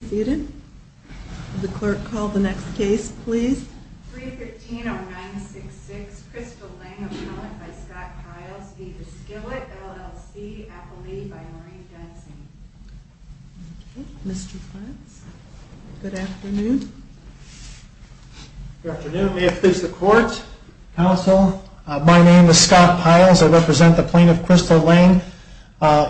Good afternoon. May it please the court, counsel, my name is Scott Piles. I represent the plaintiff Crystal Lane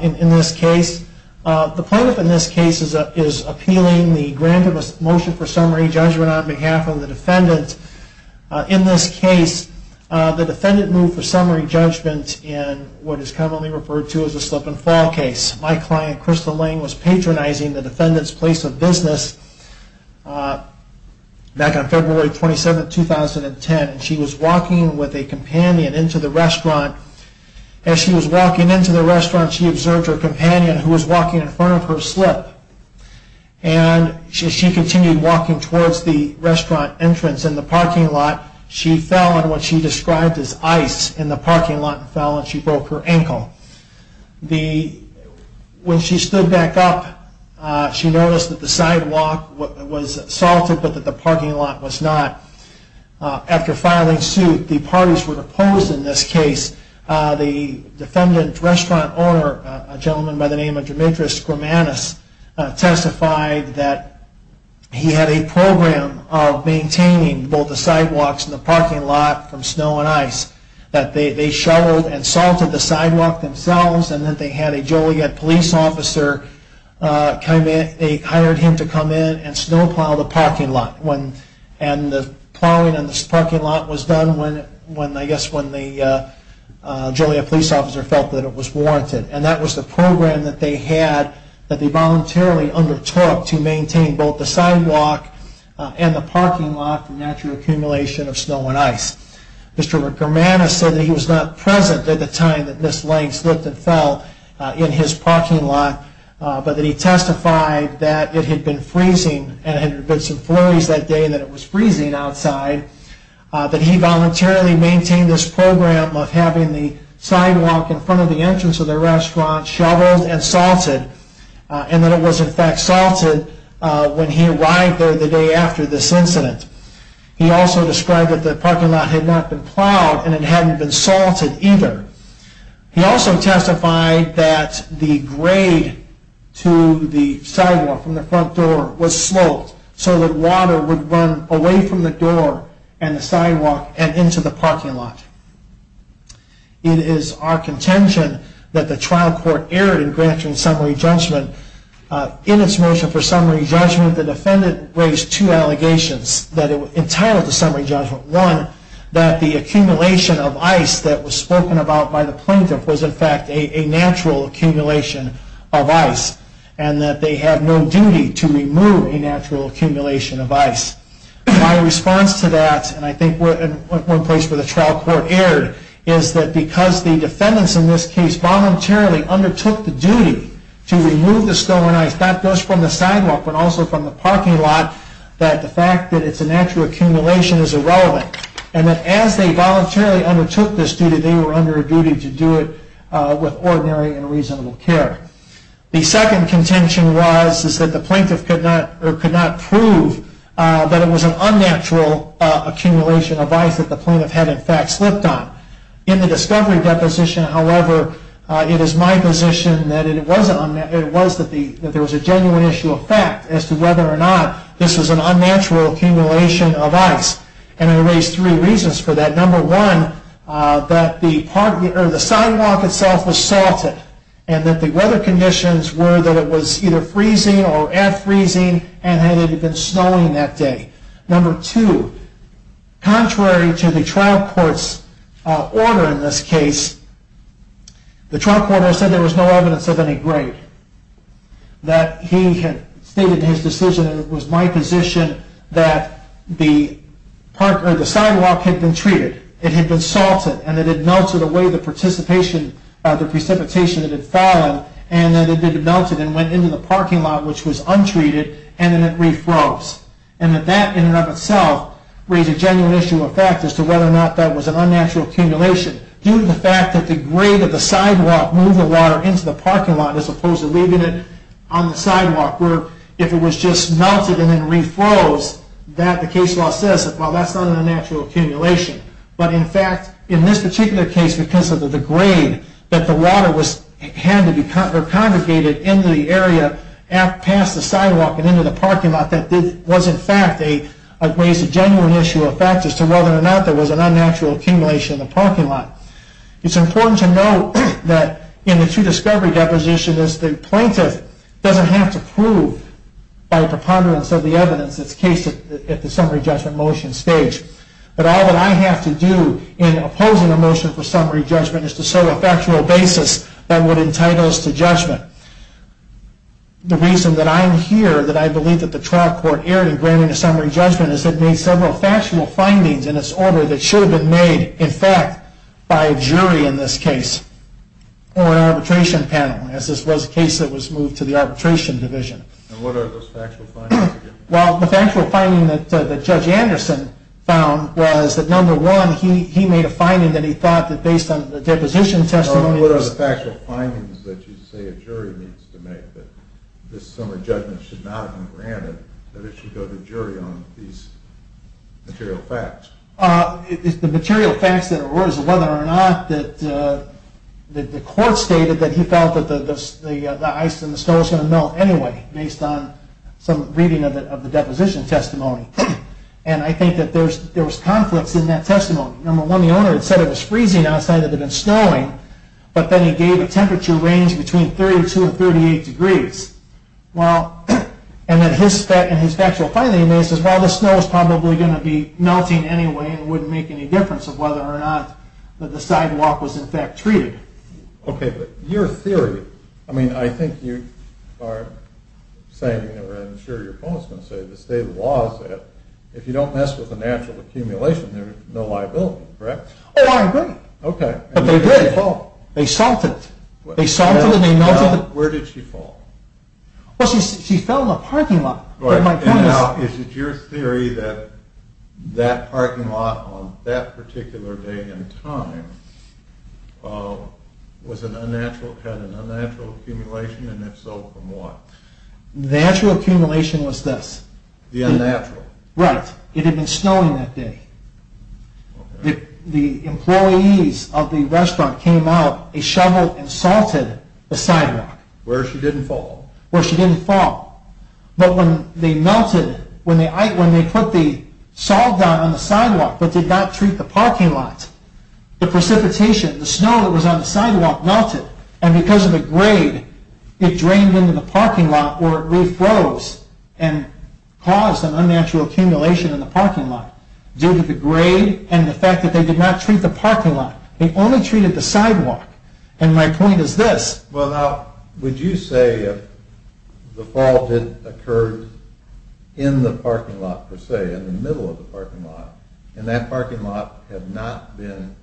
in this case. The plaintiff in this case is a defendant appealing the motion for summary judgment on behalf of the defendant. In this case the defendant moved for summary judgment in what is commonly referred to as a slip and fall case. My client Crystal Lane was patronizing the defendant's place of business back on February 27, 2010. She was walking with a companion into the restaurant. As she was walking into the restaurant she observed her companion who was walking in front of her slip. As she continued walking towards the restaurant entrance in the parking lot she fell on what she described as ice in the parking lot and fell and broke her ankle. When she stood back up she noticed that the sidewalk was salted but that the parking lot was not. After filing suit the parties were opposed in this case. The defendant's restaurant owner, a gentleman by the name of Demetrius Grimanis, testified that he had a program of maintaining both the sidewalks and the parking lot from snow and ice. They shoveled and salted the sidewalk themselves and then they had a Joliet police officer hire him to come in and snow plow the parking lot. The plowing of the parking lot was done when the Joliet police officer felt that it was warranted. And that was the program that they had that they voluntarily undertook to maintain both the sidewalk and the parking lot from natural accumulation of snow and ice. Mr. Grimanis said that he was not present at the time that Ms. Lane slipped and fell in his parking lot, but that he testified that it had been freezing and there had been some flurries that day and that it was freezing outside, that he voluntarily maintained this program of having the sidewalk in front of the entrance of the restaurant shoveled and salted and that it was in fact salted when he arrived there the day after this incident. He also described that the parking lot had not been plowed and it hadn't been salted either. He also testified that the grade to the sidewalk from the front door was sloped so that water would run away from the door and the sidewalk and into the parking lot. It is our contention that the trial court erred in granting summary judgment. In its motion for summary judgment, the defendant raised two allegations entitled to summary judgment. One, that the accumulation of ice that was spoken about by the plaintiff was in fact a natural accumulation of ice and that they have no duty to remove a natural accumulation of ice. My response to that, and I think one place where the trial court erred, is that because the defendants in this case voluntarily undertook the duty to remove the snow and ice, not just from the sidewalk but also from the parking lot, that the fact that it's a natural accumulation is irrelevant. And that as they voluntarily undertook this duty, they were under a duty to do it with ordinary and reasonable care. The second contention was that the plaintiff could not prove that it was an unnatural accumulation of ice that the plaintiff had in fact slipped on. In the discovery deposition, however, it is my position that there was a genuine issue of fact as to whether or not this was an unnatural accumulation of ice. And I raised three reasons for that. Number one, that the sidewalk itself was salted and that the weather conditions were that it was either freezing or at freezing and had even been snowing that day. Number two, contrary to the trial court's order in this case, the trial court has said there was no evidence of any grade. That he had stated in his decision, and it was my position, that the sidewalk had been treated, it had been salted, and it had melted away the precipitation that had fallen, and then it had melted and went into the parking lot, which was untreated, and then it refroze. And that that in and of itself raised a genuine issue of fact as to whether or not that was an unnatural accumulation due to the fact that the grade of the sidewalk moved the water into the parking lot as opposed to leaving it on the sidewalk, where if it was just melted and then refroze, that the case law says, well, that's not an unnatural accumulation. But in fact, in this particular case, because of the grade that the water had to be congregated in the area past the sidewalk and into the parking lot, that was in fact a genuine issue of fact as to whether or not there was an unnatural accumulation in the parking lot. It's important to note that in the true discovery deposition, the plaintiff doesn't have to prove by preponderance of the evidence its case at the summary judgment motion stage. But all that I have to do in opposing a motion for summary judgment is to serve a factual basis that would entitle us to judgment. The reason that I'm here, that I believe that the trial court erred in granting a summary judgment, is that it made several factual findings in its order that should have been made, in fact, by a jury in this case or an arbitration panel, as this was a case that was moved to the arbitration division. And what are those factual findings again? Well, the factual finding that Judge Anderson found was that number one, he made a finding that he thought that based on the deposition testimony... I say a jury needs to make that this summary judgment should not have been granted, that it should go to jury on these material facts. The material facts that arose, whether or not the court stated that he felt that the ice and the snow was going to melt anyway, based on some reading of the deposition testimony. And I think that there was conflicts in that testimony. Number one, the owner had said it was freezing outside, that it had been snowing, but then he gave a temperature range between 32 and 38 degrees. And his factual finding is that the snow was probably going to be melting anyway and wouldn't make any difference of whether or not the sidewalk was in fact treated. Okay, but your theory, I mean, I think you are saying, or I'm sure your opponent is going to say, the state of the law is that if you don't mess with the natural accumulation, there is no liability, correct? Oh, I agree. Okay. But they did. They solved it. They solved it and they melted it. Where did she fall? Well, she fell in the parking lot. Now, is it your theory that that parking lot on that particular day and time had an unnatural accumulation, and if so, from what? The actual accumulation was this. The unnatural? Right. It had been snowing that day. Okay. The employees of the restaurant came out, they shoveled and salted the sidewalk. Where she didn't fall. But when they melted, when they put the salt down on the sidewalk but did not treat the parking lot, the precipitation, the snow that was on the sidewalk melted. And because of the grade, it drained into the parking lot where it re-froze and caused an unnatural accumulation in the parking lot. Due to the grade and the fact that they did not treat the parking lot. They only treated the sidewalk. And my point is this. Well, now, would you say if the fall did occur in the parking lot per se, in the middle of the parking lot, and that parking lot had not been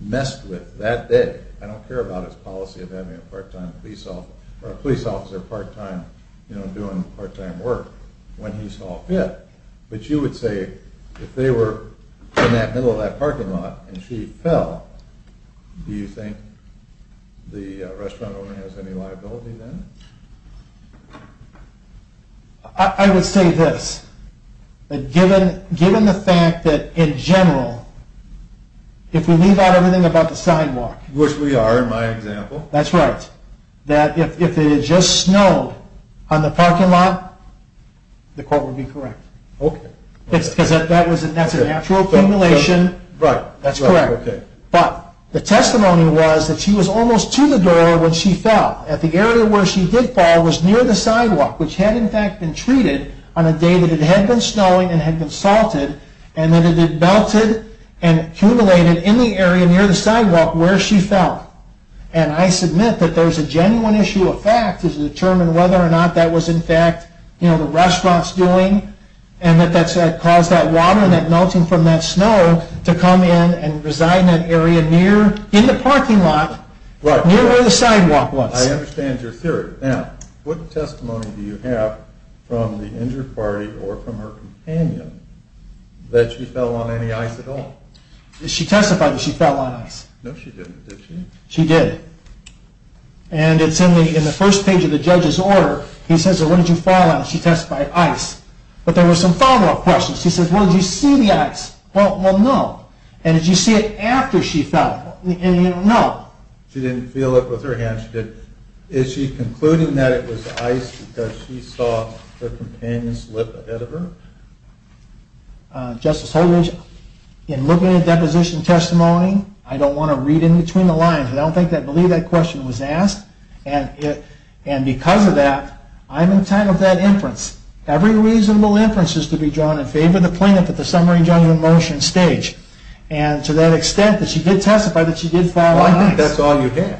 messed with that day? I don't care about his policy of having a part-time police officer, or a police officer part-time, you know, doing part-time work when he solved it. But you would say, if they were in that middle of that parking lot and she fell, do you think the restaurant owner has any liability then? I would say this. Given the fact that, in general, if we leave out everything about the sidewalk. Which we are in my example. That's right. That if it had just snowed on the parking lot, the court would be correct. Okay. Because that's a natural accumulation. Right. That's correct. Okay. But the testimony was that she was almost to the door when she fell. At the area where she did fall was near the sidewalk. Which had, in fact, been treated on a day that it had been snowing and had been salted. And that it had melted and accumulated in the area near the sidewalk where she fell. And I submit that there's a genuine issue of fact to determine whether or not that was, in fact, you know, the restaurant's doing. And that caused that water and that melting from that snow to come in and reside in that area near, in the parking lot, near where the sidewalk was. I understand your theory. Now, what testimony do you have from the injured party or from her companion that she fell on any ice at all? She testified that she fell on ice. No, she didn't. Did she? She did. And it's in the first page of the judge's order. He says, well, what did you fall on? She testified, ice. But there were some follow-up questions. She says, well, did you see the ice? Well, no. And did you see it after she fell? And, you know, no. She didn't feel it with her hands, she didn't. Is she concluding that it was ice because she saw her companion slip ahead of her? Justice Holdridge, in looking at deposition testimony, I don't want to read in between the lines. I don't believe that question was asked. And because of that, I'm entitled to that inference. Every reasonable inference is to be drawn in favor of the plaintiff at the summary judgment motion stage. And to that extent that she did testify that she did fall on ice. Well, I think that's all you have.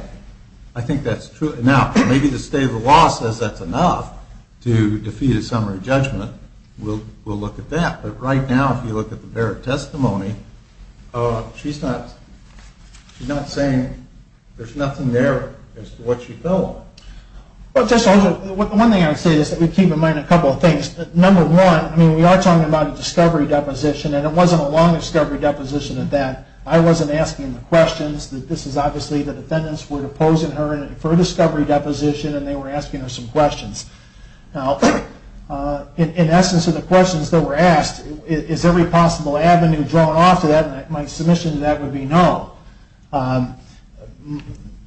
I think that's true. Now, maybe the state of the law says that's enough to defeat a summary judgment. We'll look at that. But right now, if you look at the Barrett testimony, she's not saying there's nothing there as to what she fell on. Well, Justice Holdridge, one thing I would say is that we keep in mind a couple of things. Number one, I mean, we are talking about a discovery deposition, and it wasn't a long discovery deposition at that. I wasn't asking the questions. This is obviously the defendants were deposing her for a discovery deposition, and they were asking her some questions. Now, in essence of the questions that were asked, is every possible avenue drawn off to that? My submission to that would be no.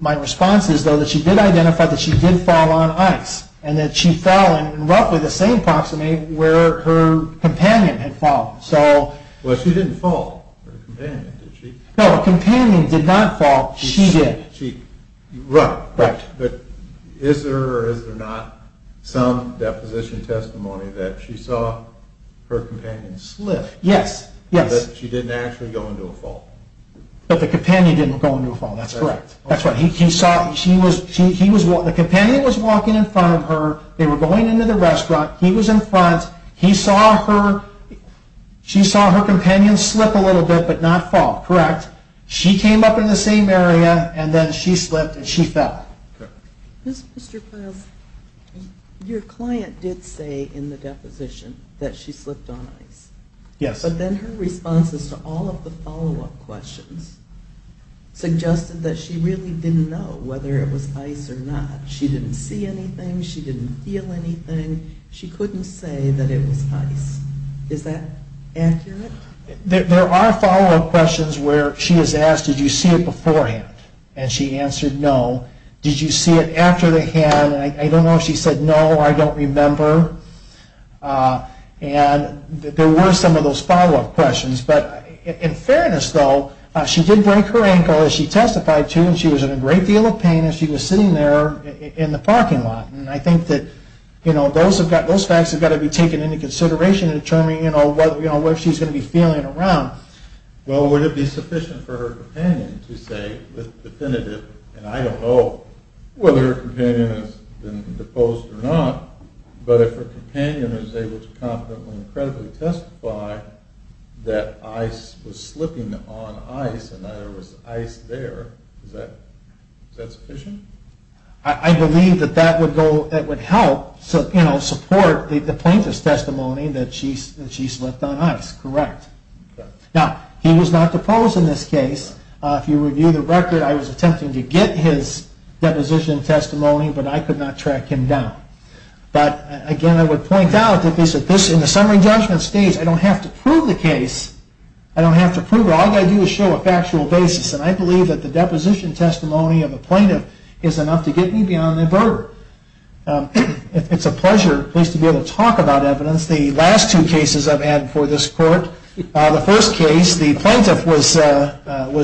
My response is, though, that she did identify that she did fall on ice, and that she fell in roughly the same proximate where her companion had fallen. Well, she didn't fall on her companion, did she? No, her companion did not fall. She did. Right. But is there or is there not some deposition testimony that she saw her companion slip? Yes, yes. That she didn't actually go into a fall? That the companion didn't go into a fall. That's correct. That's right. The companion was walking in front of her. They were going into the restaurant. He was in front. He saw her. She saw her companion slip a little bit, but not fall. Correct. She came up in the same area, and then she slipped and she fell. Mr. Piles, your client did say in the deposition that she slipped on ice. Yes. But then her responses to all of the follow-up questions suggested that she really didn't know whether it was ice or not. She didn't see anything. She didn't feel anything. She couldn't say that it was ice. Is that accurate? There are follow-up questions where she is asked, did you see it beforehand? And she answered no. Did you see it after the hand? And I don't know if she said no or I don't remember. And there were some of those follow-up questions. But in fairness, though, she did break her ankle, as she testified to, and she was in a great deal of pain as she was sitting there in the parking lot. And I think that those facts have got to be taken into consideration in determining where she's going to be feeling around. Well, would it be sufficient for her companion to say definitively, and I don't know whether her companion has been deposed or not, but if her companion is able to confidently and credibly testify that ice was slipping on ice and that there was ice there, is that sufficient? I believe that that would help support the plaintiff's testimony that she slipped on ice. Correct. Now, he was not deposed in this case. If you review the record, I was attempting to get his deposition testimony, but I could not track him down. But again, I would point out that in the summary judgment stage, I don't have to prove the case. I don't have to prove it. All I have to do is show a factual basis. And I believe that the deposition testimony of a plaintiff is enough to get me beyond the inverter. It's a pleasure, at least, to be able to talk about evidence. The last two cases I've had before this court, the first case, the plaintiff was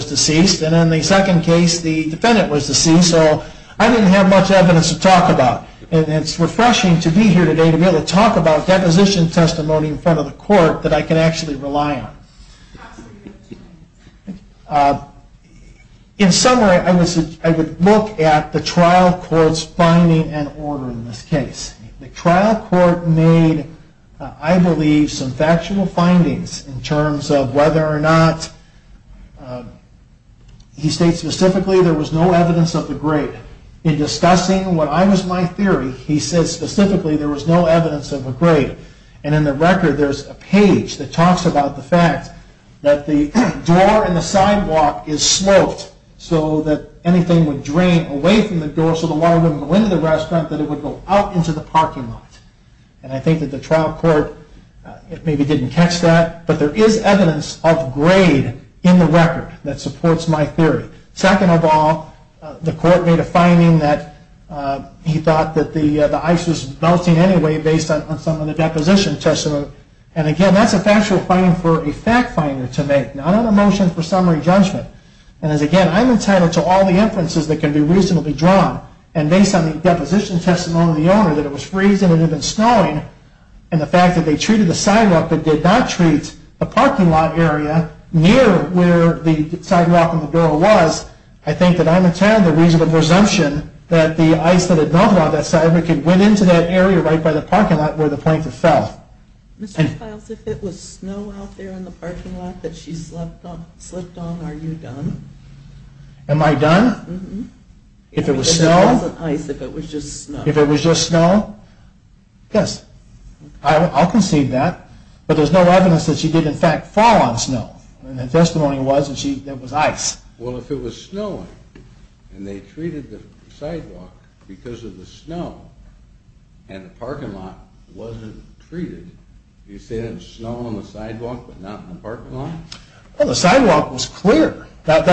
deceased. And in the second case, the defendant was deceased. So I didn't have much evidence to talk about. And it's refreshing to be here today to be able to talk about deposition testimony in front of the court that I can actually rely on. In summary, I would look at the trial court's finding and order in this case. The trial court made, I believe, some factual findings in terms of whether or not, he states specifically, there was no evidence of a grade. In discussing what I was my theory, he says, specifically, there was no evidence of a grade. And in the record, there's a page that talks about the fact that the door in the sidewalk is sloped so that anything would drain away from the door so the water wouldn't go into the restaurant, that it would go out into the parking lot. And I think that the trial court maybe didn't catch that. But there is evidence of grade in the record that supports my theory. Second of all, the court made a finding that he thought that the ice was melting anyway based on some of the deposition testimony. And again, that's a factual finding for a fact finder to make, not a motion for summary judgment. And again, I'm entitled to all the inferences that can be reasonably drawn. And based on the deposition testimony of the owner, that it was freezing and even snowing, and the fact that they treated the sidewalk but did not treat the parking lot area near where the sidewalk and the door was, I think that I'm entitled to a reasonable presumption that the ice that had melted on that side went into that area right by the parking lot where the plankton fell. Mr. Stiles, if it was snow out there in the parking lot that she slipped on, are you done? Am I done? If it was snow? If it wasn't ice, if it was just snow. If it was just snow? Yes. I'll concede that. But there's no evidence that she did in fact fall on snow. The testimony was that it was ice. Well, if it was snowing and they treated the sidewalk because of the snow and the parking lot wasn't treated, do you say that it was snow on the sidewalk but not in the parking lot? Well, the sidewalk was clear. And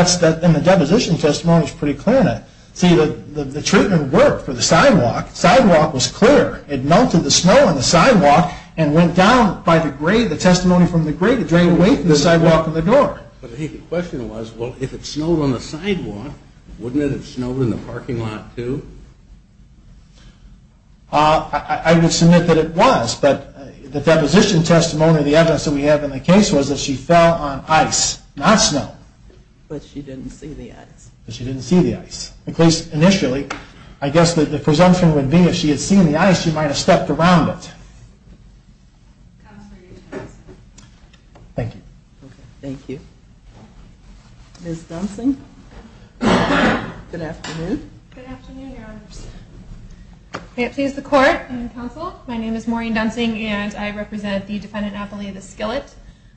the deposition testimony is pretty clear on that. See, the treatment worked for the sidewalk. Sidewalk was clear. It melted the snow on the sidewalk and went down by the grade, the testimony from the grade, it drained away from the sidewalk and the door. But I think the question was, well, if it snowed on the sidewalk, wouldn't it have snowed in the parking lot too? I would submit that it was. But the deposition testimony, the evidence that we have in the case, But she didn't see the ice. She didn't see the ice. At least initially, I guess the presumption would be if she had seen the ice, she might have stepped around it. Thank you. Thank you. Ms. Dunsing? Good afternoon. Good afternoon, Your Honors. May it please the Court and Counsel, my name is Maureen Dunsing and I represent the defendant appellee of the skillet.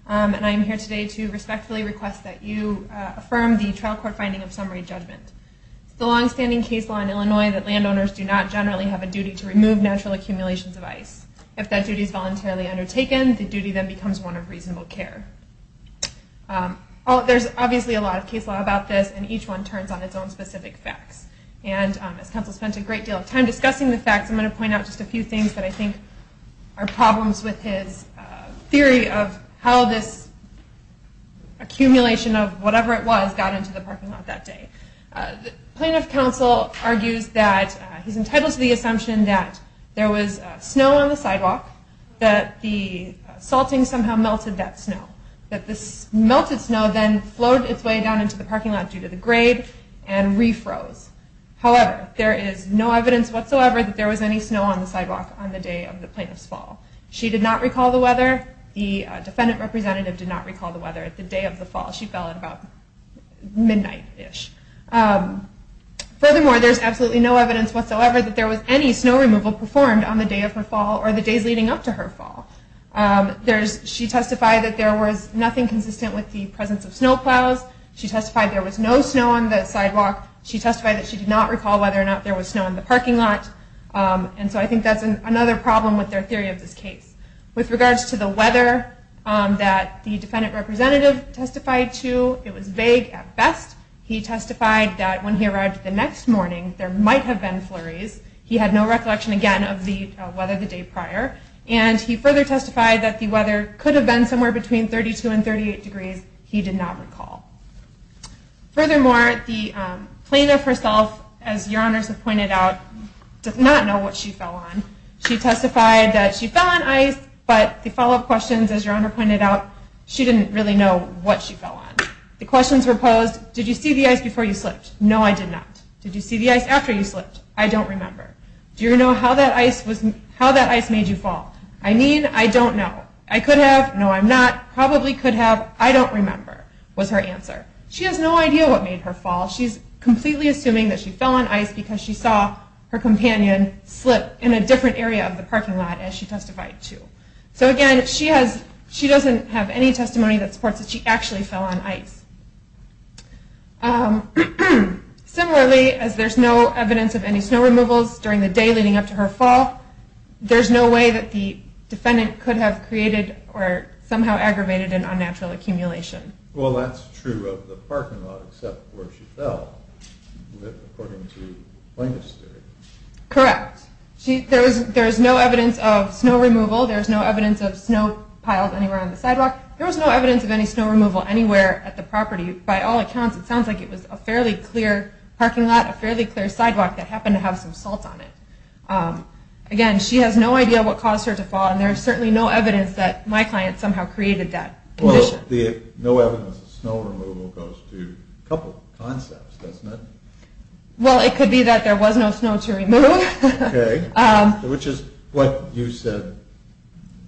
And I am here today to respectfully request that you affirm the trial court finding of summary judgment. The longstanding case law in Illinois that landowners do not generally have a duty to remove natural accumulations of ice. If that duty is voluntarily undertaken, the duty then becomes one of reasonable care. There's obviously a lot of case law about this, and each one turns on its own specific facts. And as counsel spent a great deal of time discussing the facts, I'm going to point out just a few things that I think are problems with his theory of how this accumulation of whatever it was got into the parking lot that day. Plaintiff counsel argues that he's entitled to the assumption that there was snow on the sidewalk, that the salting somehow melted that snow, that this melted snow then flowed its way down into the parking lot due to the grade and refroze. However, there is no evidence whatsoever that there was any snow on the sidewalk on the day of the plaintiff's fall. She did not recall the weather. The defendant representative did not recall the weather at the day of the fall. She fell at about midnight-ish. Furthermore, there's absolutely no evidence whatsoever that there was any snow removal performed on the day of her fall or the days leading up to her fall. She testified that there was nothing consistent with the presence of snow plows. She testified there was no snow on the sidewalk. She testified that she did not recall whether or not there was snow in the parking lot. And so I think that's another problem with their theory of this case. With regards to the weather that the defendant representative testified to, it was vague at best. He testified that when he arrived the next morning, there might have been flurries. He had no recollection, again, of the weather the day prior. And he further testified that the weather could have been somewhere between 32 and 38 degrees. He did not recall. Furthermore, the plaintiff herself, as your honors have pointed out, did not know what she fell on. She testified that she fell on ice, but the follow-up questions, as your honor pointed out, she didn't really know what she fell on. The questions were posed, did you see the ice before you slipped? No, I did not. Did you see the ice after you slipped? I don't remember. Do you know how that ice made you fall? I mean, I don't know. I could have. No, I'm not. Probably could have. What I don't remember was her answer. She has no idea what made her fall. She's completely assuming that she fell on ice because she saw her companion slip in a different area of the parking lot as she testified to. So, again, she doesn't have any testimony that supports that she actually fell on ice. Similarly, as there's no evidence of any snow removals during the day leading up to her fall, there's no way that the defendant could have created or somehow aggravated an unnatural accumulation. Well, that's true of the parking lot, except where she fell, according to the plaintiff's theory. Correct. There's no evidence of snow removal. There's no evidence of snow piled anywhere on the sidewalk. There was no evidence of any snow removal anywhere at the property. By all accounts, it sounds like it was a fairly clear parking lot, a fairly clear sidewalk that happened to have some salt on it. Again, she has no idea what caused her to fall, and there's certainly no evidence that my client somehow created that condition. Well, the no evidence of snow removal goes to a couple of concepts, doesn't it? Well, it could be that there was no snow to remove. Okay. Which is what you said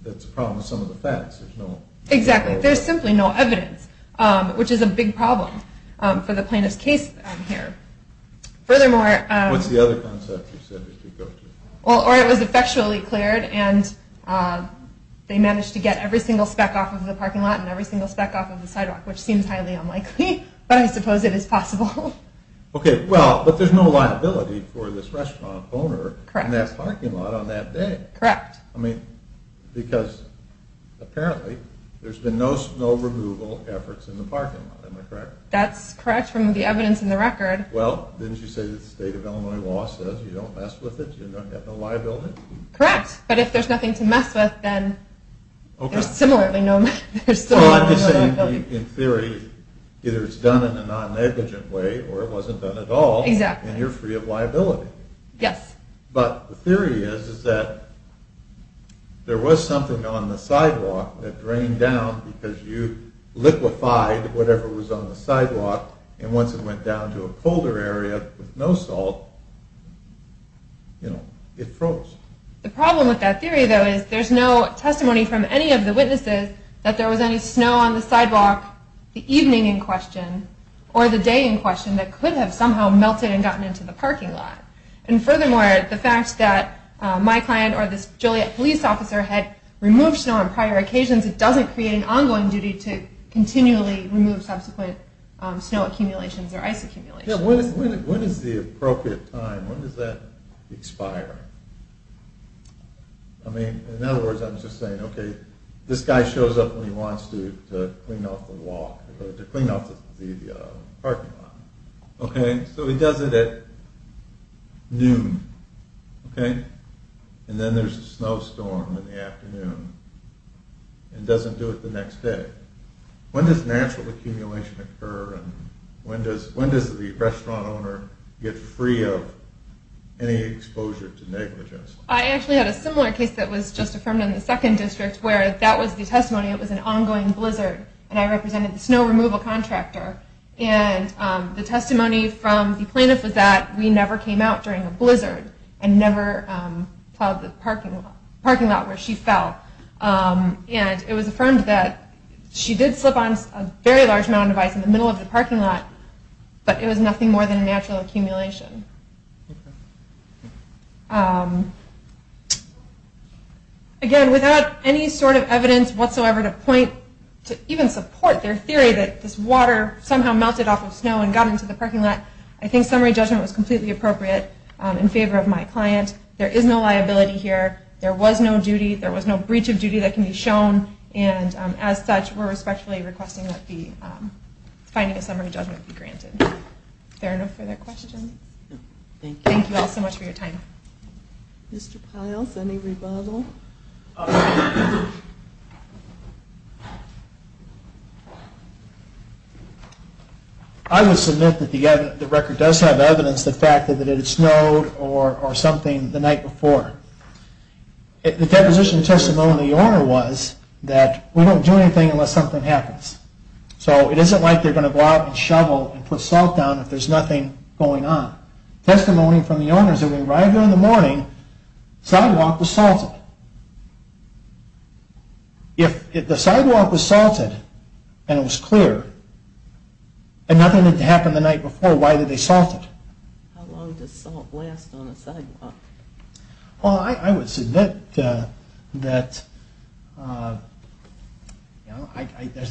that's a problem with some of the facts. Exactly. There's simply no evidence, which is a big problem for the plaintiff's case here. Furthermore – What's the other concept you said goes to? Or it was effectually cleared, and they managed to get every single speck off of the parking lot and every single speck off of the sidewalk, which seems highly unlikely, but I suppose it is possible. Okay, well, but there's no liability for this restaurant owner in that parking lot on that day. Correct. I mean, because apparently there's been no snow removal efforts in the parking lot. Am I correct? That's correct from the evidence in the record. Well, didn't you say that the state of Illinois law says you don't mess with it, you have no liability? Correct, but if there's nothing to mess with, then there's similarly no liability. Well, I'm just saying, in theory, either it's done in a non-negligent way or it wasn't done at all, and you're free of liability. Yes. But the theory is that there was something on the sidewalk that drained down because you liquefied whatever was on the sidewalk, and once it went down to a colder area with no salt, you know, it froze. The problem with that theory, though, is there's no testimony from any of the witnesses that there was any snow on the sidewalk the evening in question or the day in question that could have somehow melted and gotten into the parking lot. And furthermore, the fact that my client or this Joliet police officer had removed snow on prior occasions, it doesn't create an ongoing duty to continually remove subsequent snow accumulations or ice accumulations. Yeah, when is the appropriate time? When does that expire? I mean, in other words, I'm just saying, okay, this guy shows up when he wants to clean off the walk, to clean off the parking lot. Okay, so he does it at noon, okay? And then there's a snowstorm in the afternoon and doesn't do it the next day. When does natural accumulation occur, and when does the restaurant owner get free of any exposure to negligence? I actually had a similar case that was just affirmed in the second district where that was the testimony, it was an ongoing blizzard, and I represented the snow removal contractor. And the testimony from the plaintiff was that we never came out during a blizzard and never plowed the parking lot where she fell. And it was affirmed that she did slip on a very large amount of ice in the middle of the parking lot, but it was nothing more than a natural accumulation. Again, without any sort of evidence whatsoever to point to even support their theory that this water somehow melted off of snow and got into the parking lot, I think summary judgment was completely appropriate in favor of my client. There is no liability here. There was no duty. There was no breach of duty that can be shown. And as such, we're respectfully requesting that finding a summary judgment be granted. Are there no further questions? Thank you all so much for your time. Mr. Piles, any rebuttal? I would submit that the record does have evidence that it snowed or something the night before. The deposition testimony of the owner was that we don't do anything unless something happens. So it isn't like they're going to go out and shovel and put salt down if there's nothing going on. Testimony from the owner is that when we arrived there in the morning, the sidewalk was salted. If the sidewalk was salted and it was clear and nothing had happened the night before, why did they salt it? How long does salt last on a sidewalk? Well, I would submit that there's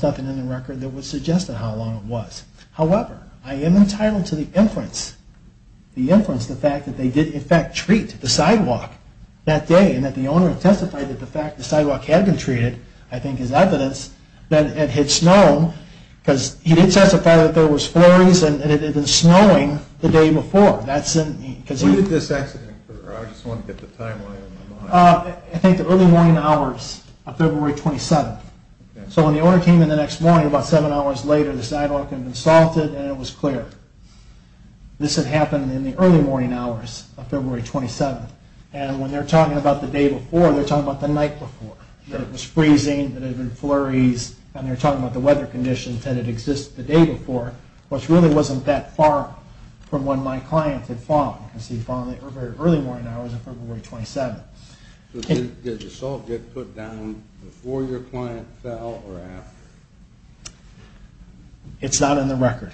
nothing in the record that would suggest how long it was. However, I am entitled to the inference, the fact that they did in fact treat the sidewalk that day and that the owner testified that the fact the sidewalk had been treated, I think is evidence, that it had snowed because he did testify that there was flurries and it had been snowing the day before. When did this accident occur? I just want to get the timeline in my mind. I think the early morning hours of February 27th. So when the owner came in the next morning about seven hours later, the sidewalk had been salted and it was clear. This had happened in the early morning hours of February 27th. And when they're talking about the day before, they're talking about the night before. It was freezing, there had been flurries, and they're talking about the weather conditions that had existed the day before, which really wasn't that far from when my client had fallen. He had fallen in the early morning hours of February 27th. Did the salt get put down before your client fell or after? It's not in the record.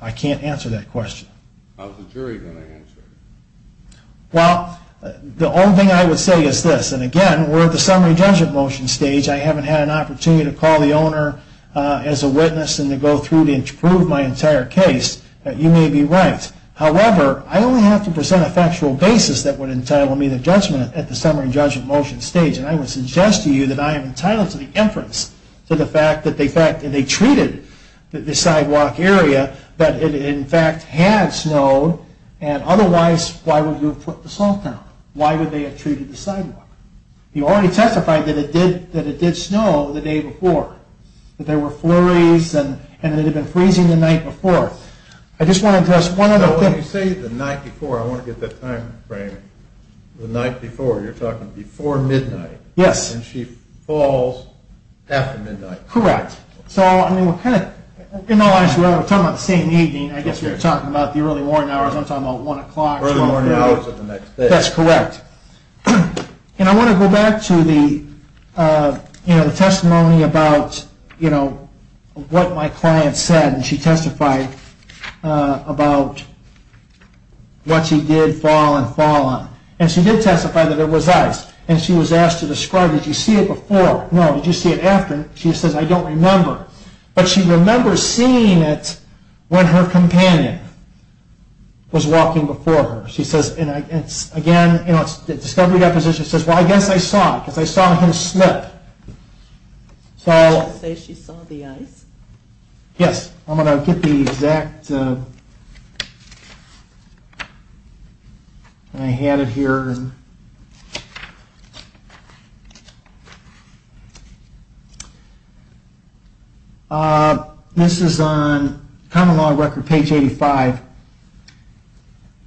I can't answer that question. How's the jury going to answer it? Well, the only thing I would say is this, and again, we're at the summary judgment motion stage. I haven't had an opportunity to call the owner as a witness and to go through and prove my entire case. You may be right. However, I only have to present a factual basis that would entitle me to judgment at the summary judgment motion stage. And I would suggest to you that I am entitled to the inference to the fact that they treated the sidewalk area, that it in fact had snowed, and otherwise, why would you have put the salt down? Why would they have treated the sidewalk? You already testified that it did snow the day before. That there were flurries and that it had been freezing the night before. I just want to address one other thing. When you say the night before, I want to get that time frame. The night before, you're talking before midnight. Yes. And she falls after midnight. Correct. In all honesty, we're talking about the same evening. I guess you're talking about the early morning hours. I'm talking about 1 o'clock, 12 o'clock. Early morning hours of the next day. That's correct. And I want to go back to the testimony about what my client said. And she testified about what she did fall and fall on. And she did testify that it was ice. And she was asked to describe, did you see it before? No, did you see it after? She says, I don't remember. But she remembers seeing it when her companion was walking before her. Again, the discovery deposition says, well, I guess I saw it. Because I saw him slip. Did she say she saw the ice? Yes. I'm going to get the exact. I had it here. This is on Common Law Record, page 85.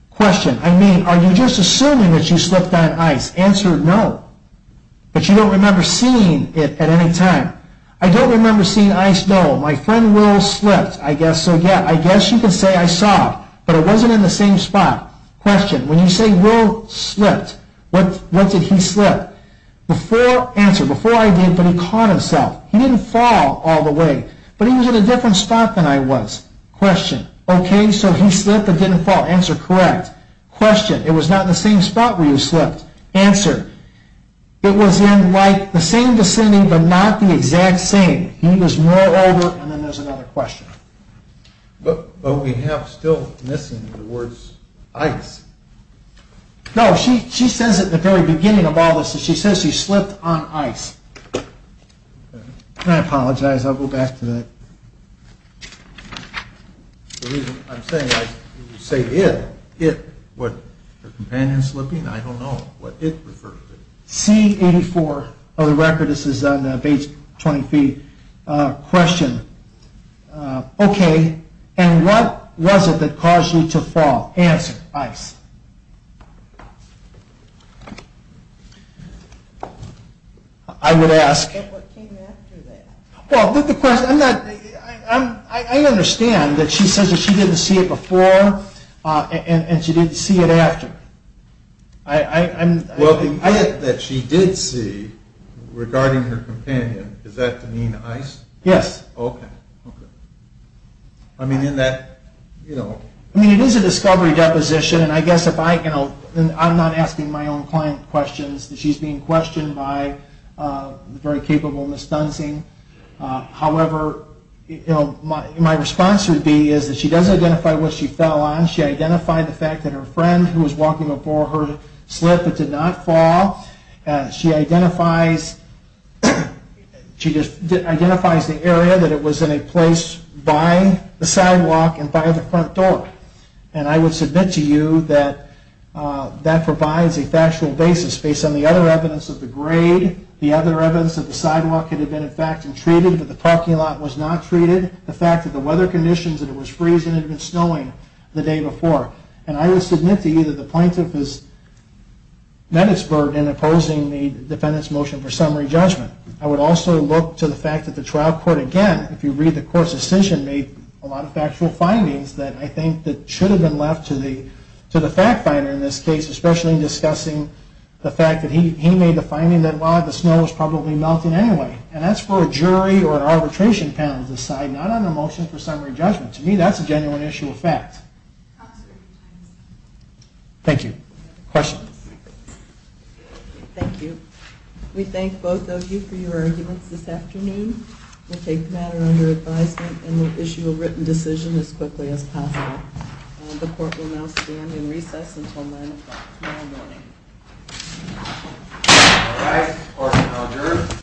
Question. I mean, are you just assuming that you slipped on ice? Answer, no. But you don't remember seeing it at any time. I don't remember seeing ice, no. My friend Will slipped, I guess. So, yeah, I guess you could say I saw it. But it wasn't in the same spot. Question. When you say Will slipped, what did he slip? Answer. Before I did, but he caught himself. He didn't fall all the way. But he was in a different spot than I was. Question. Okay, so he slipped and didn't fall. Answer, correct. Question. It was not in the same spot where you slipped. Answer. It was in, like, the same vicinity, but not the exact same. He was more over, and then there's another question. But we have still missing the words ice. No, she says at the very beginning of all this that she says she slipped on ice. And I apologize. I'll go back to that. The reason I'm saying ice, you say it. It. What, the companion slipping? I don't know what it refers to. C84 of the record. This is on page 20B. Question. Okay, and what was it that caused you to fall? Answer. Ice. I would ask. Well, I understand that she says that she didn't see it before, and she didn't see it after. Well, the hint that she did see regarding her companion, is that to mean ice? Yes. Okay. I mean, in that, you know. I mean, it is a discovery deposition, and I guess if I can, I'm not asking my own client questions. She's being questioned by the very capable Ms. Dunsing. However, you know, my response would be is that she doesn't identify what she fell on. She identified the fact that her friend who was walking before her slipped but did not fall. She identifies the area that it was in a place by the sidewalk and by the front door. And I would submit to you that that provides a factual basis based on the other evidence of the grade, the other evidence that the sidewalk could have been in fact treated but the parking lot was not treated, the fact that the weather conditions that it was freezing and it had been snowing the day before. And I would submit to you that the plaintiff has met its burden in opposing the defendant's motion for summary judgment. I would also look to the fact that the trial court, again, if you read the court's decision, made a lot of factual findings that I think that should have been left to the fact finder in this case, especially in discussing the fact that he made the finding that, well, the snow was probably melting anyway. And that's for a jury or an arbitration panel to decide, not on a motion for summary judgment. To me, that's a genuine issue of fact. Thank you. Questions? Thank you. We thank both of you for your arguments this afternoon. We'll take the matter under advisement and we'll issue a written decision as quickly as possible. The court will now stand in recess until 9 o'clock tomorrow morning. All right. Court is now adjourned.